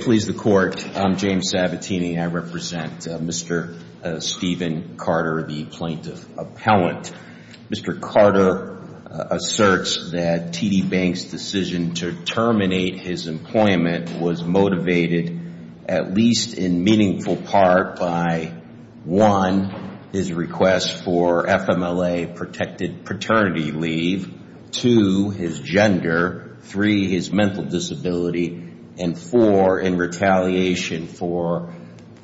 Please the court. I'm James Sabatini and I represent Mr. Stephen Carter, the plaintiff appellant. Mr. Carter asserts that TD Bank's decision to terminate his employment was motivated, at least in meaningful part, by one, his request for FMLA-protected paternity leave, two, his in retaliation for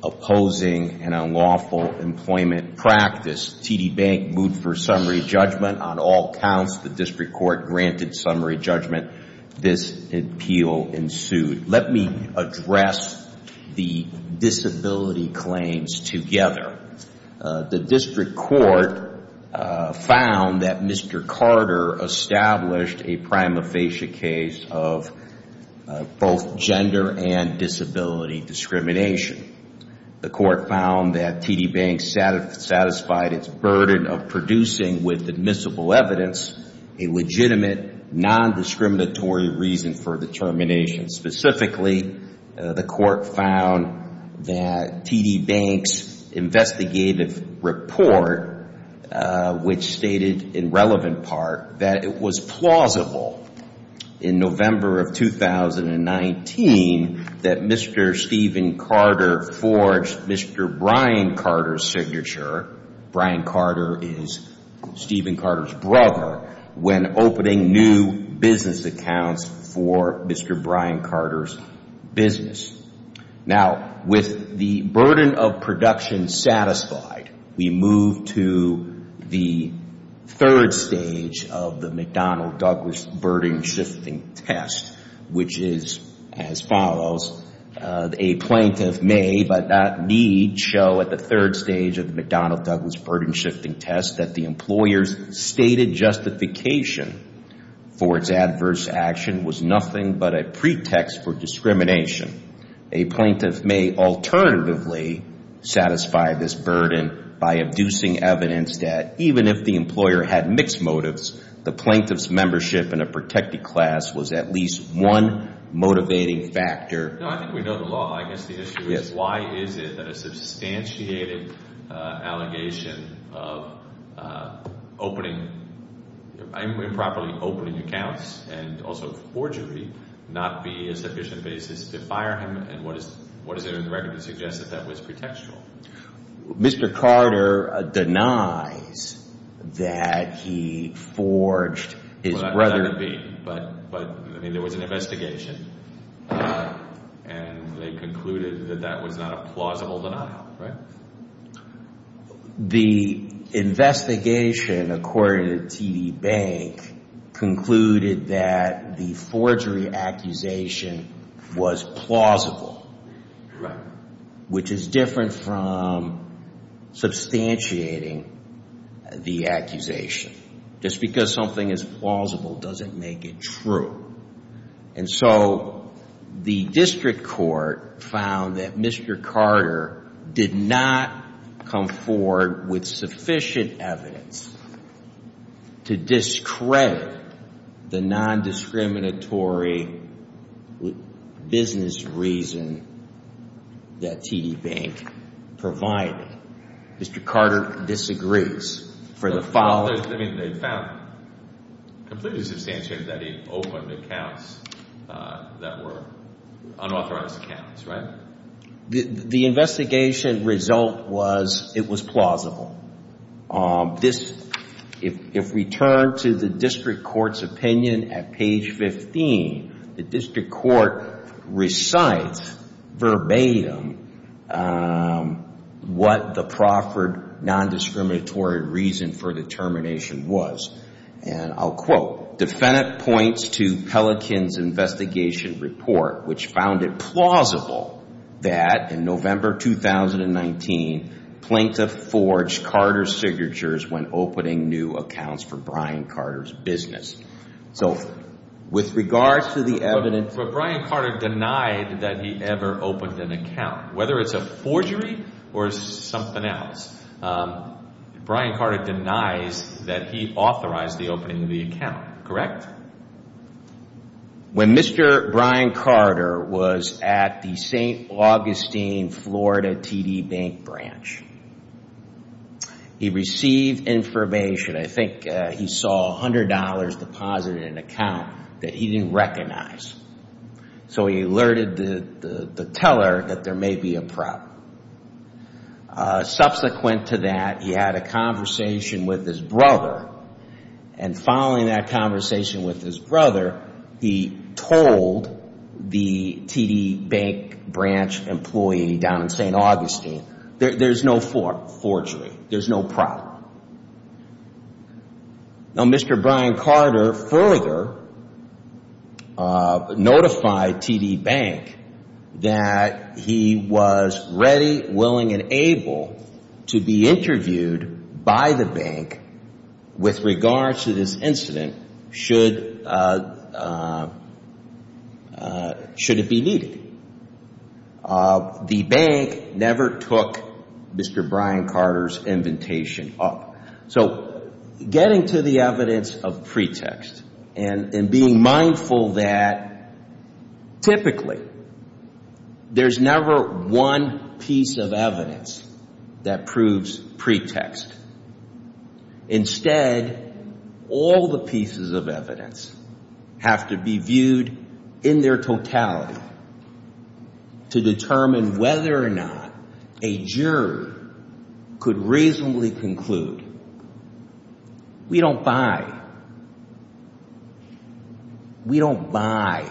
opposing an unlawful employment practice. TD Bank moved for summary judgment on all counts. The district court granted summary judgment. This appeal ensued. Let me address the disability claims together. The district court found that Mr. Carter established a prima facie case of both gender and disability discrimination. The court found that TD Bank satisfied its burden of producing with admissible evidence a legitimate, non-discriminatory reason for the termination. Specifically, the court found that TD Bank's investigative report, which stated in relevant part that it was plausible in November of 2019 that Mr. Stephen Carter forged Mr. Brian Carter's signature, Brian Carter is Stephen Carter's brother, when opening new business accounts for Mr. Brian Carter's business. Now, with the burden of production satisfied, we move to the third stage of the McDonnell-Douglas burden-shifting test, which is as follows. A plaintiff may, but not need, show at the third stage of the McDonnell-Douglas burden-shifting test that the employer's stated justification for its adverse action was nothing but a pretext for discrimination. A plaintiff may alternatively satisfy this burden by abusing evidence that, even if the employer had mixed motives, the plaintiff's membership in a protected class was at least one motivating factor. No, I think we know the law. I guess the issue is why is it that a substantiated allegation of improperly opening accounts and also forgery not be a sufficient basis to fire him, and what is there in the record to suggest that that was pretextual? Mr. Carter denies that he forged his brother's... Well, that could be, but there was an investigation, and they concluded that that was not a plausible denial, right? Right. The investigation, according to TD Bank, concluded that the forgery accusation was plausible, which is different from substantiating the accusation. Just because something is plausible doesn't make it true, and so the district court found that Mr. Carter denied that the plaintiff did not come forward with sufficient evidence to discredit the nondiscriminatory business reason that TD Bank provided. Mr. Carter disagrees for the following... I mean, they found completely substantiated that he opened accounts that were unauthorized accounts, right? The investigation result was it was plausible. If we turn to the district court's opinion at page 15, the district court recites verbatim what the proffered nondiscriminatory reason for the termination was, and I'll quote, defendant points to Pelican's investigation report, which found it plausible that, in November 2019, Plaintiff forged Carter's signatures when opening new accounts for Brian Carter's business. So, with regards to the evidence... But Brian Carter denied that he ever opened an account, whether it's a forgery or something else. Brian Carter denies that he authorized the opening of the account, correct? Correct. When Mr. Brian Carter was at the St. Augustine, Florida, TD Bank branch, he received information. I think he saw $100 deposited in an account that he didn't recognize, so he alerted the teller that there may be a problem. Subsequent to that, he had a conversation with his brother, and following that conversation with his brother, he told the TD Bank branch employee down in St. Augustine, there's no forgery. There's no problem. Now, Mr. Brian Carter further notified TD Bank that he was ready, willing, and able to be interviewed by the bank with regards to this incident, should it be needed. The bank never took Mr. Brian Carter's invitation up. So, getting to the evidence of pretext, and being mindful that, typically, there's never one piece of evidence that proves pretext. There's never one piece of evidence that proves pretext. Instead, all the pieces of evidence have to be viewed in their totality to determine whether or not a jury could reasonably conclude, we don't buy, we don't buy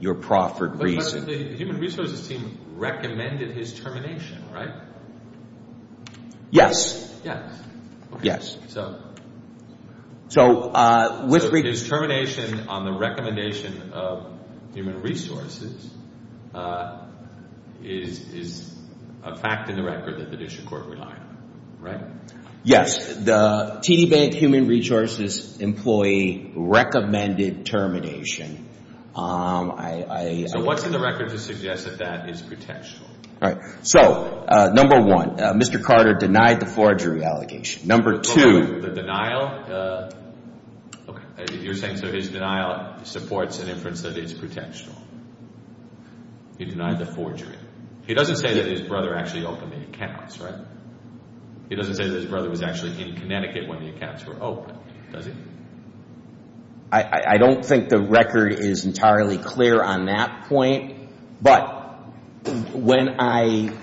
your proffered reason. But the human resources team recommended his termination. So, his termination on the recommendation of human resources is a fact in the record that the district court relied on, right? Yes. The TD Bank human resources employee recommended termination. So, what's in the record to suggest that that is pretextual? So, number one, Mr. Carter denied the forgery allegation. Number two, the denial, you're saying so his denial supports an inference that it's pretextual. He denied the forgery. He doesn't say that his brother actually opened the accounts, right? He doesn't say that his brother was actually in Connecticut when the accounts were opened, does he? I don't think the record is entirely clear on that point, but when I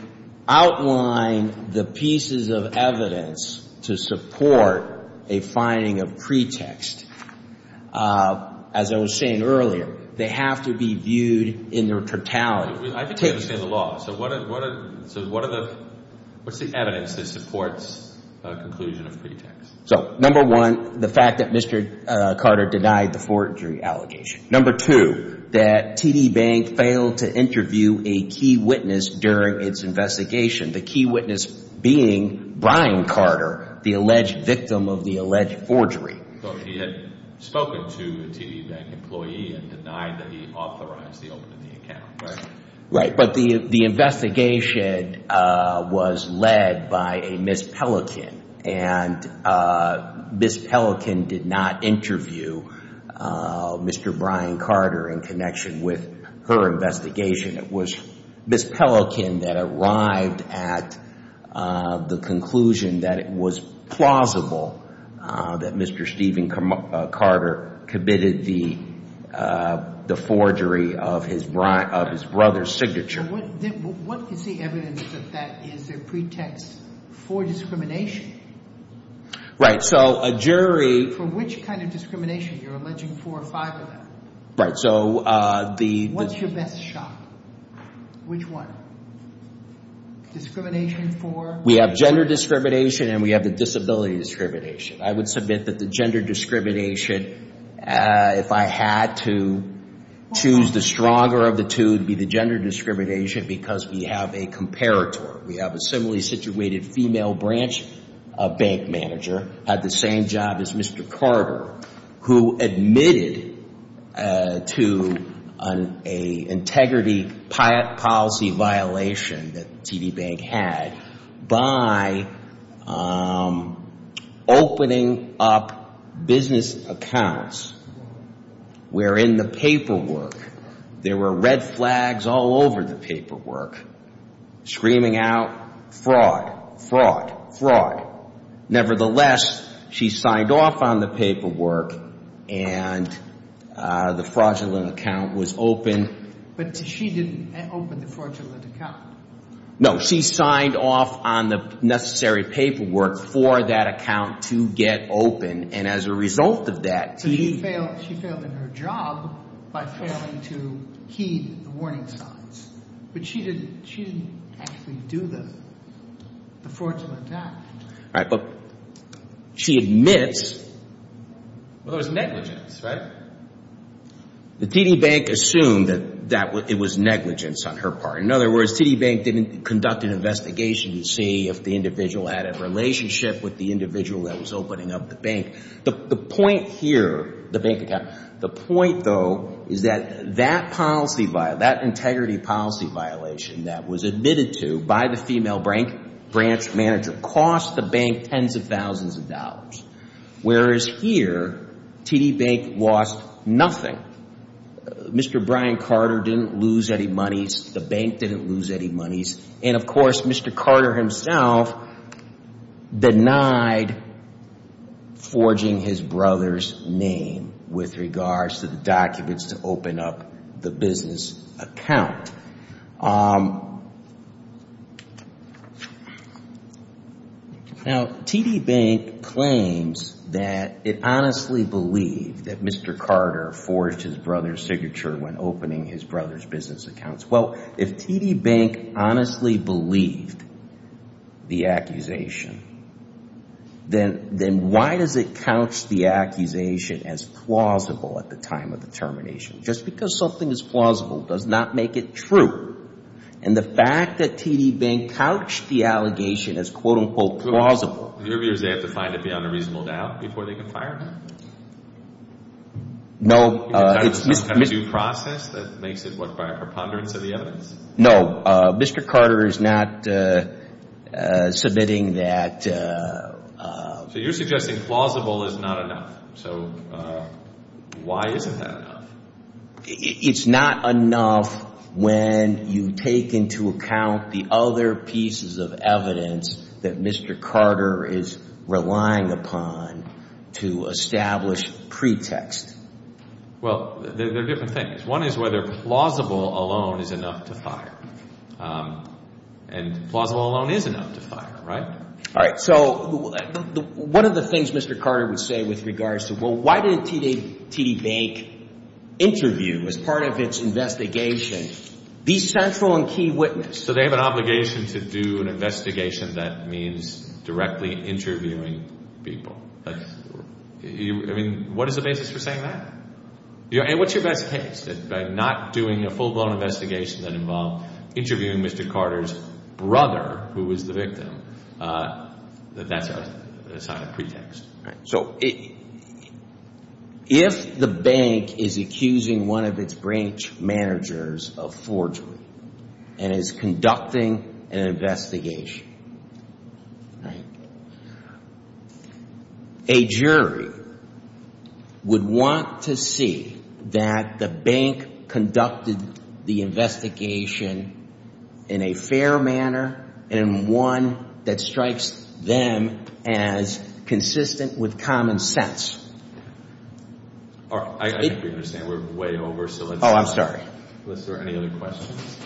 outline the pieces of evidence to support a finding of pretext, as I was saying earlier, they have to be viewed in their totality. I can understand the law. So, what are the, what's the evidence that supports a conclusion of pretext? So, number one, the fact that Mr. Carter denied the forgery allegation. Number two, that TD Bank failed to interview a key witness during its investigation, the key witness being Brian Carter, the alleged victim of the alleged forgery. So, he had spoken to a TD Bank employee and denied that he authorized the opening of the account, right? Right, but the investigation was led by a Ms. Pelican, and Ms. Pelican did not involve Mr. Brian Carter in connection with her investigation. It was Ms. Pelican that arrived at the conclusion that it was plausible that Mr. Stephen Carter committed the forgery of his brother's signature. What is the evidence of that? Is there pretext for discrimination? Right, so a jury... For which kind of discrimination? You're alleging four or five of them. Right, so the... What's your best shot? Which one? Discrimination for... We have gender discrimination and we have the disability discrimination. I would submit that the gender discrimination, if I had to choose the stronger of the two, it would be the gender discrimination because we have a comparator. We have a similarly situated female branch bank manager, had the same job as Mr. Carter, who admitted to an integrity policy violation that TD Bank had by opening up business accounts wherein the paperwork, there were red flags all over the paperwork, screaming out, fraud, fraud, fraud. Nevertheless, she signed off on the paperwork and the fraudulent account was opened. But she didn't open the fraudulent account. No, she signed off on the necessary paperwork for that account to get open, and as a result of that... So she failed in her job by failing to heed the warning signs, but she didn't actually do the fraudulent account. Right, but she admits... Well, there was negligence, right? The TD Bank assumed that it was negligence on her part. In other words, TD Bank didn't conduct an investigation to see if the individual had a relationship with the individual that was opening up the bank. The point here, the bank account, the point though is that that integrity policy violation that was admitted to by the female branch manager cost the bank tens of thousands of dollars, whereas here, TD Bank lost nothing. Mr. Brian Carter didn't lose any monies. The bank didn't lose any monies, and of course, Mr. Carter himself denied forging his brother's name with regards to the documents to open up the bank. Now, TD Bank claims that it honestly believed that Mr. Carter forged his brother's signature when opening his brother's business accounts. Well, if TD Bank honestly believed the accusation, then why does it couch the accusation as plausible at the time of the termination? Just because something is plausible does not make it true, and the fact that TD Bank couched the allegation as quote-unquote plausible... In your views, they have to find it beyond a reasonable doubt before they can fire him? No, it's... Is that a due process that makes it, what, by a preponderance of the evidence? No, Mr. Carter is not submitting that... So you're suggesting plausible is not enough. So why isn't that enough? It's not enough when you take into account the other pieces of evidence that Mr. Carter is relying upon to establish pretext. Well, they're different things. One is whether plausible alone is enough to fire, and plausible alone is enough to fire, right? All right, so one of the things Mr. Carter would say with regards to, well, why didn't TD Bank interview as part of its investigation the central and key witness? So they have an obligation to do an investigation that means directly interviewing people. I mean, what is the basis for saying that? And what's your best case? By not doing a full-blown investigation that involved interviewing Mr. Carter's brother, who was the victim, that that's a sign of pretext. So if the bank is accusing one of its branch managers of forgery and is conducting an investigation, a jury would want to see that the bank conducted the investigation in a fair manner and one that strikes them as consistent with common sense. All right, I think we understand. We're way over, so let's... Oh, I'm sorry. ...let's start any other questions.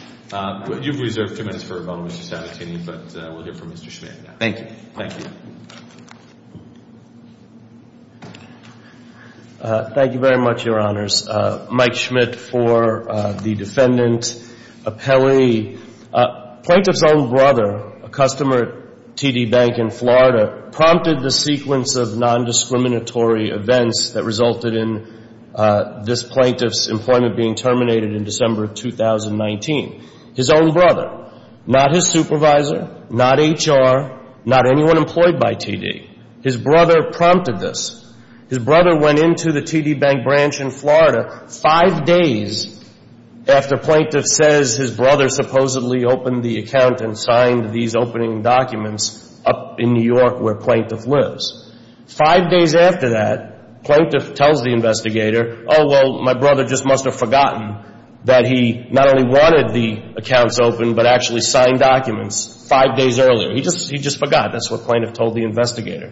You've reserved two minutes for Mr. Sabatini, but we'll hear from Mr. Schmidt now. Thank you. Thank you. Thank you very much, Your Honors. Mike Schmidt for the defendant. Plaintiff's own brother, a customer at TD Bank in Florida, prompted the sequence of nondiscriminatory events that resulted in this plaintiff's employment being terminated in December of 2019. His own brother, not his supervisor, not HR, not anyone employed by TD. His brother prompted this. His brother went into the TD Bank branch in Florida five days after plaintiff says his brother supposedly opened the account and signed these opening documents up in New York where plaintiff lives. Five days after that, plaintiff tells the investigator, oh, well, my brother just must have forgotten that he not only wanted the accounts opened but actually signed documents five days earlier. He just forgot. That's what plaintiff told the investigator.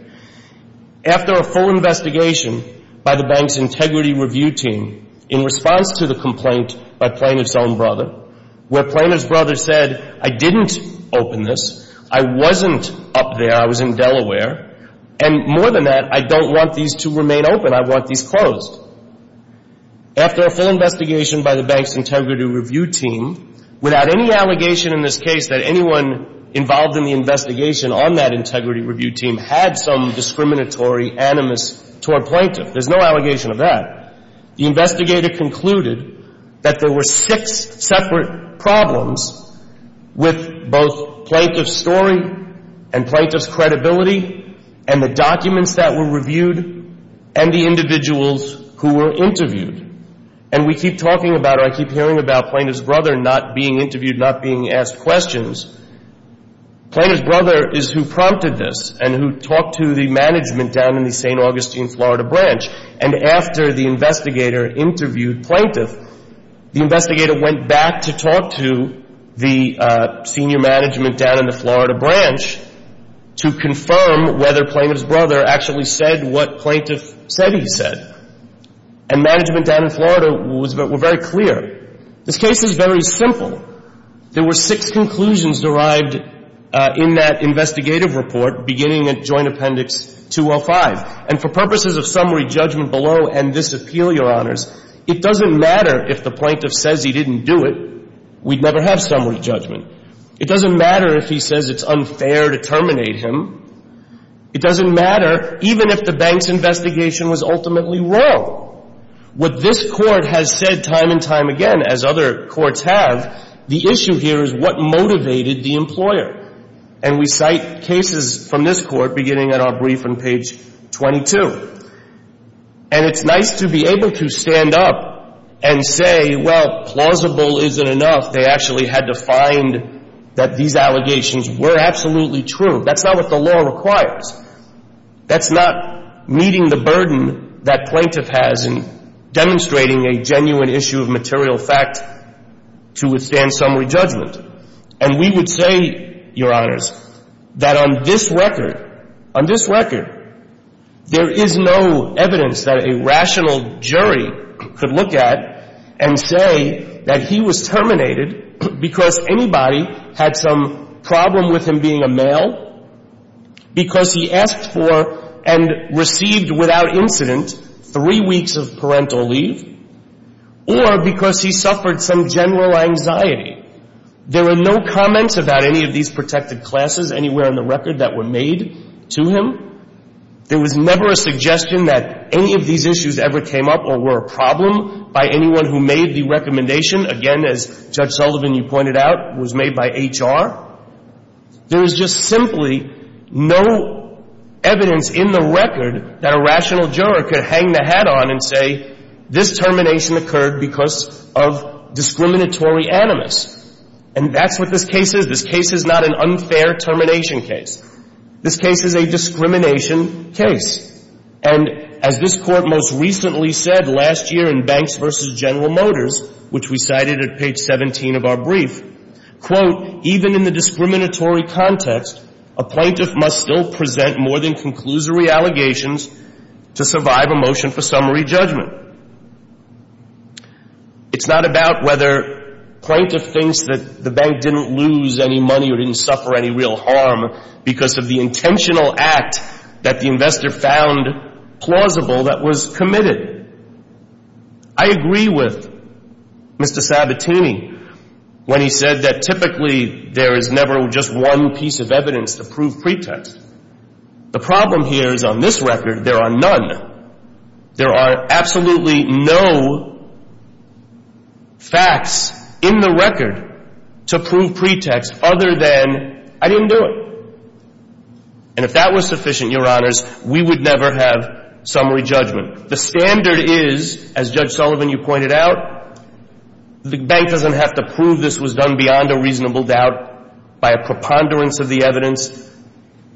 After a full investigation by the bank's integrity review team, in response to the complaint by plaintiff's own brother, where plaintiff's brother said, I didn't open this. I wasn't up there. I was in Delaware. And more than that, I don't want these to remain open. I want these closed. After a full investigation by the bank's integrity review team, without any allegation in this case that anyone involved in the investigation on that integrity review team had some discriminatory animus toward that, the investigator concluded that there were six separate problems with both plaintiff's story and plaintiff's credibility and the documents that were reviewed and the individuals who were interviewed. And we keep talking about or I keep hearing about plaintiff's brother not being interviewed, not being asked questions. Plaintiff's brother is who prompted this and who talked to the management down in the St. Augustine, Florida branch. And after the investigator interviewed plaintiff, the investigator went back to talk to the senior management down in the Florida branch to confirm whether plaintiff's brother actually said what plaintiff said he said. And management down in Florida was very clear. This case is very simple. There were six conclusions derived in that investigative report beginning at Joint Appendix 205. And for purposes of summary judgment below and this appeal, Your Honors, it doesn't matter if the plaintiff says he didn't do it. We'd never have summary judgment. It doesn't matter if he says it's unfair to terminate him. It doesn't matter even if the bank's investigation was ultimately wrong. What this Court has said time and time again, as other courts have, the issue here is what motivated the cases from this Court beginning at our brief on page 22. And it's nice to be able to stand up and say, well, plausible isn't enough. They actually had to find that these allegations were absolutely true. That's not what the law requires. That's not meeting the burden that plaintiff has in demonstrating a genuine issue of material fact to withstand summary judgment. And we would say, Your Honors, that on this record, on this record, there is no evidence that a rational jury could look at and say that he was terminated because anybody had some problem with him being a male, because he asked for and received without incident three weeks of parental leave, or because he suffered some general anxiety. There are no comments about any of these protected classes anywhere on the record that were made to him. There was never a suggestion that any of these issues ever came up or were a problem by anyone who made the recommendation. Again, as Judge Sullivan, you pointed out, was made by HR. There is just simply no evidence in the record that a rational juror could hang the hat on and say this termination occurred because of discriminatory animus. And that's what this case is. This case is not an unfair termination case. This case is a discrimination case. And as this Court most recently said last year in Banks v. General Motors, which we cited at page 17 of our brief, quote, even in the discriminatory context, a plaintiff must still present more than conclusory allegations to survive a motion for summary judgment. It's not about whether plaintiff thinks that the bank didn't lose any money or didn't suffer any real harm because of the intentional act that the investor found plausible that was Mr. Sabatini, when he said that typically there is never just one piece of evidence to prove pretext. The problem here is on this record there are none. There are absolutely no facts in the record to prove pretext other than I didn't do it. And if that was sufficient, Your Honors, we would never have summary judgment. The standard is, as Judge Sullivan, you pointed out, the bank doesn't have to prove this was done beyond a reasonable doubt by a preponderance of the evidence.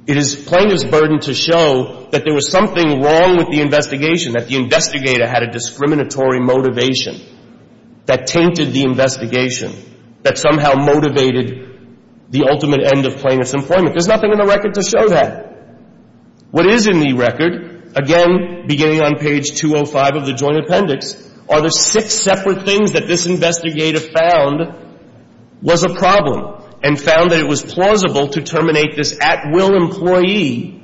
It is plaintiff's burden to show that there was something wrong with the investigation, that the investigator had a discriminatory motivation that tainted the investigation that somehow motivated the ultimate end of plaintiff's employment. There's nothing in the record to show that. What is in the record, again, beginning on page 205 of the Joint Appendix, are the six separate things that this investigator found was a problem and found that it was plausible to terminate this at-will employee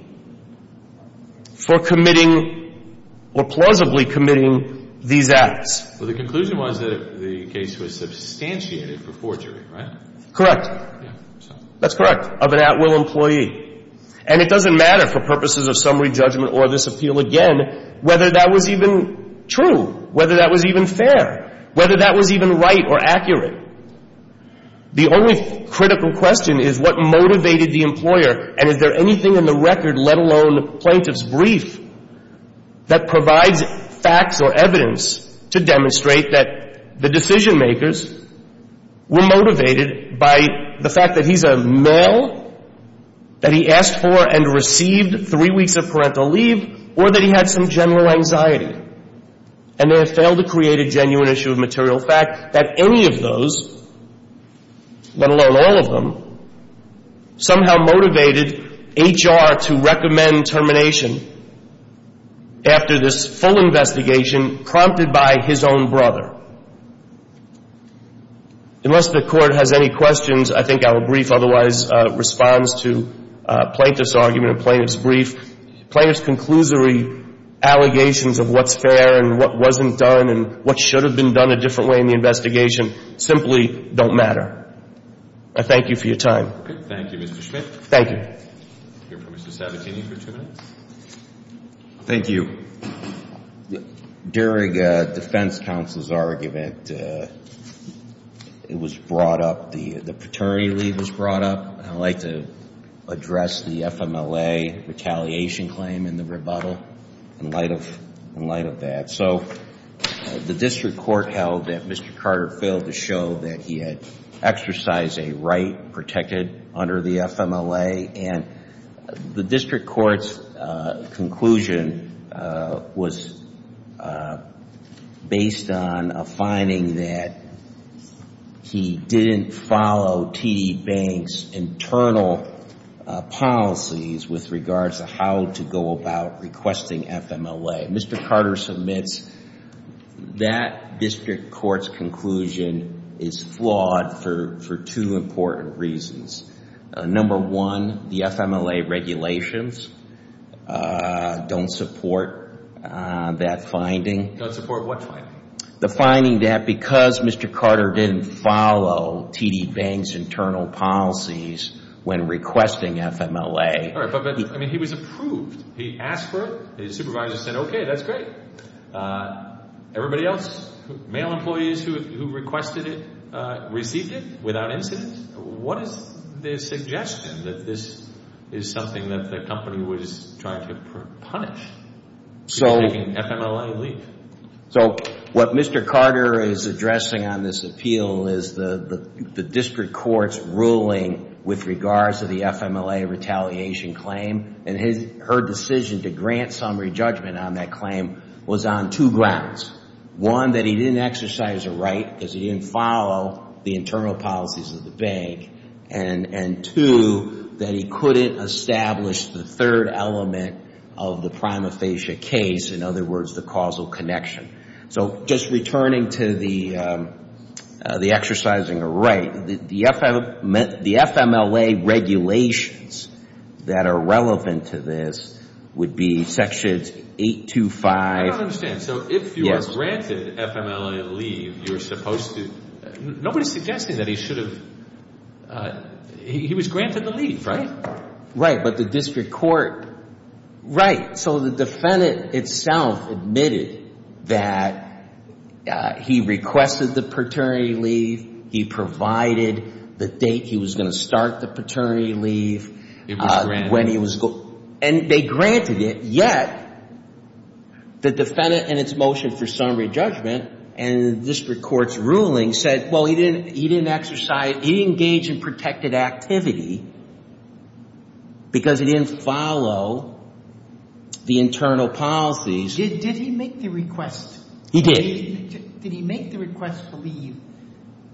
for committing or plausibly committing these acts. Well, the conclusion was that the case was substantiated for forgery, right? Correct. That's correct, of an at-will employee. And it doesn't matter for purposes of summary judgment or this appeal, again, whether that was even true, whether that was even fair, whether that was even right or accurate. The only critical question is what motivated the employer, and is there anything in the record, let alone the plaintiff's brief, that provides facts or evidence to demonstrate that the decision-makers were motivated by the fact that he's a male, that he asked for and received three weeks of parental leave, or that he had some general anxiety, and they have failed to create a genuine issue of material fact that any of those, let alone all of them, somehow motivated HR to recommend termination after this full investigation prompted by his own brother. So the question is, is there anything in the record that the plaintiff's brief or the plaintiff's conclusory allegations of what's fair and what wasn't done and what should have been done a different way in the investigation simply don't matter? I thank you for your time. Okay. Thank you, Mr. Schmidt. Thank you. I'll hear from Mr. Sabatini for two minutes. Thank you. During a defense counsel's argument, it was brought up, the paternity leave was brought up. I'd like to address the FMLA retaliation claim in the rebuttal in light of that. So the district court held that Mr. Carter failed to show that he had exercised a right to be protected under the FMLA, and the district court's conclusion was based on a finding that he didn't follow TD Bank's internal policies with regards to how to go about requesting FMLA. Okay. Mr. Carter submits that district court's conclusion is flawed for two important reasons. Number one, the FMLA regulations don't support that finding. Don't support what finding? The finding that because Mr. Carter didn't follow TD Bank's internal policies when requesting FMLA. All right. But he was approved. He asked for it. His supervisor said, okay, that's great. Everybody else, male employees who requested it, received it without incident. What is their suggestion that this is something that the company was trying to punish? So taking FMLA leave. So what Mr. Carter is addressing on this appeal is the district court's ruling with regards to the FMLA retaliation claim, and her decision to grant summary judgment on that claim was on two grounds. One, that he didn't exercise a right because he didn't follow the internal policies of the bank, and two, that he couldn't establish the third element of the prima facie case, in other words, the causal connection. So just returning to the exercising a right, the FMLA regulations that are relevant to this would be sections 825. I don't understand. So if you are granted FMLA leave, you're supposed to... Nobody's suggesting that he should have... He was granted the leave, right? Right. But the district court... Right. So the defendant itself admitted that he requested the paternity leave, he provided the date he was going to start the paternity leave, when he was going... And they granted it, yet the defendant in its motion for summary judgment and the district court's ruling said, well, he didn't exercise... activity because he didn't follow the internal policies... Did he make the request? He did. Did he make the request for leave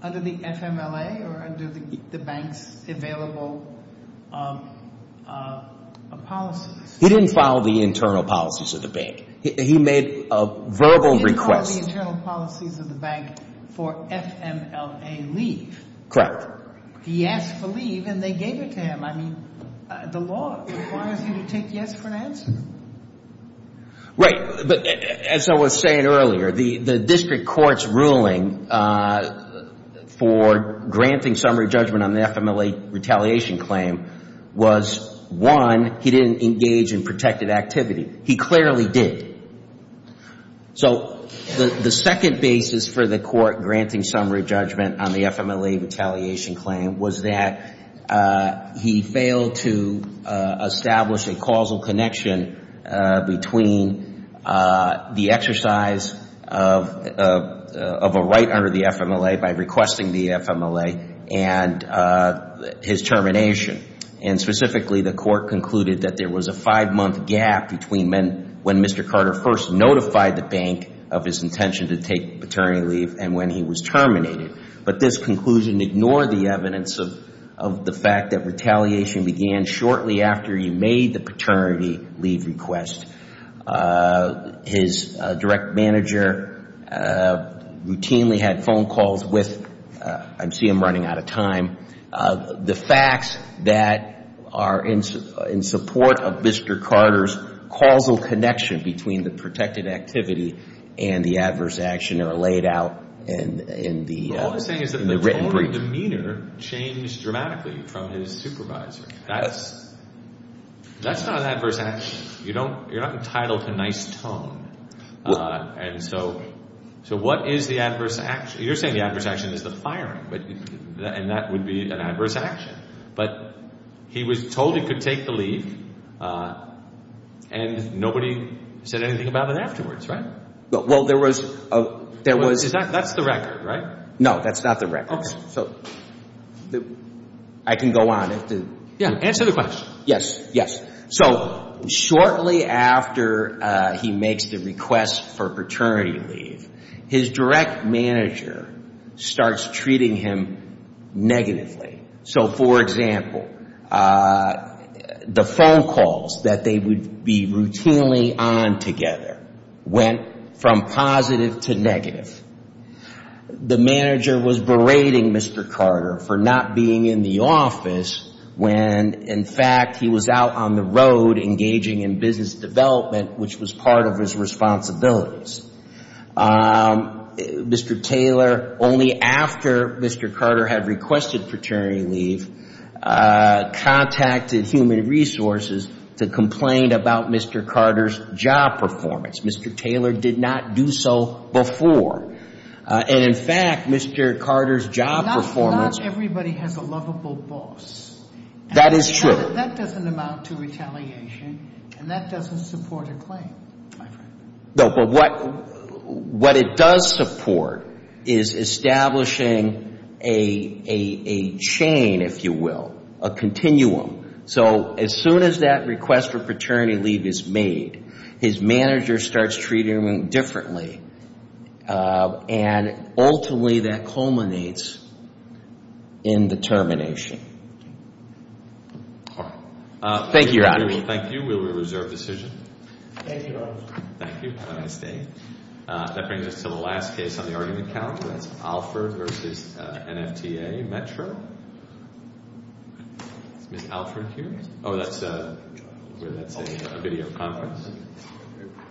under the FMLA or under the bank's available policies? He didn't follow the internal policies of the bank. He made a verbal request. He didn't follow the internal policies of the bank for FMLA leave. Correct. He asked for leave and they gave it to him. I mean, the law requires you to take yes for an answer. Right. But as I was saying earlier, the district court's ruling for granting summary judgment on the FMLA retaliation claim was, one, he didn't engage in protected activity. He clearly did. So, the second basis for the court granting summary judgment on the FMLA retaliation claim was that he failed to establish a causal connection between the exercise of a right under the FMLA by requesting the FMLA and his termination. And specifically, the court concluded that there was a five-month gap between when Mr. Carter first notified the bank of his intention to take paternity leave and when he was terminated. But this conclusion ignored the evidence of the fact that retaliation began shortly after he made the paternity leave request. His direct manager routinely had phone calls with, I see him running out of time, the facts that are in support of Mr. Carter's causal connection between the protected activity and the adverse action that are laid out in the written brief. But all I'm saying is that the total demeanor changed dramatically from his supervisor. That's not an adverse action. You're not entitled to nice tone. And so, what is the adverse action? You're saying the adverse action is the firing, and that would be an adverse action. But he was told he could take the leave, and nobody said anything about it afterwards, right? Well, there was... That's the record, right? No, that's not the record. Okay. So, I can go on. Yeah, answer the question. Yes, yes. So, shortly after he makes the request for paternity leave, his direct manager starts treating him negatively. So, for example, the phone calls that they would be routinely on together went from positive to negative. The manager was berating Mr. Carter for not being in the office when, in fact, he was out on the road engaging in business development, which was part of his responsibilities. Mr. Taylor, only after Mr. Carter had requested paternity leave, contacted Human Resources to complain about Mr. Carter's job performance. Mr. Taylor did not do so before. And, in fact, Mr. Carter's job performance... Not everybody has a lovable boss. That is true. That doesn't amount to retaliation, and that doesn't support a claim, my friend. No, but what it does support is establishing a chain, if you will, a continuum. So, as soon as that request for paternity leave is made, his manager starts treating him differently. And, ultimately, that culminates in the termination. Thank you, Your Honor. Thank you. We will reserve decision. Thank you, Your Honor. Thank you. Have a nice day. That brings us to the last case on the argument calendar. That's Alford v. NFTA, Metro. Is Ms. Alford here? Oh, that's a video conference.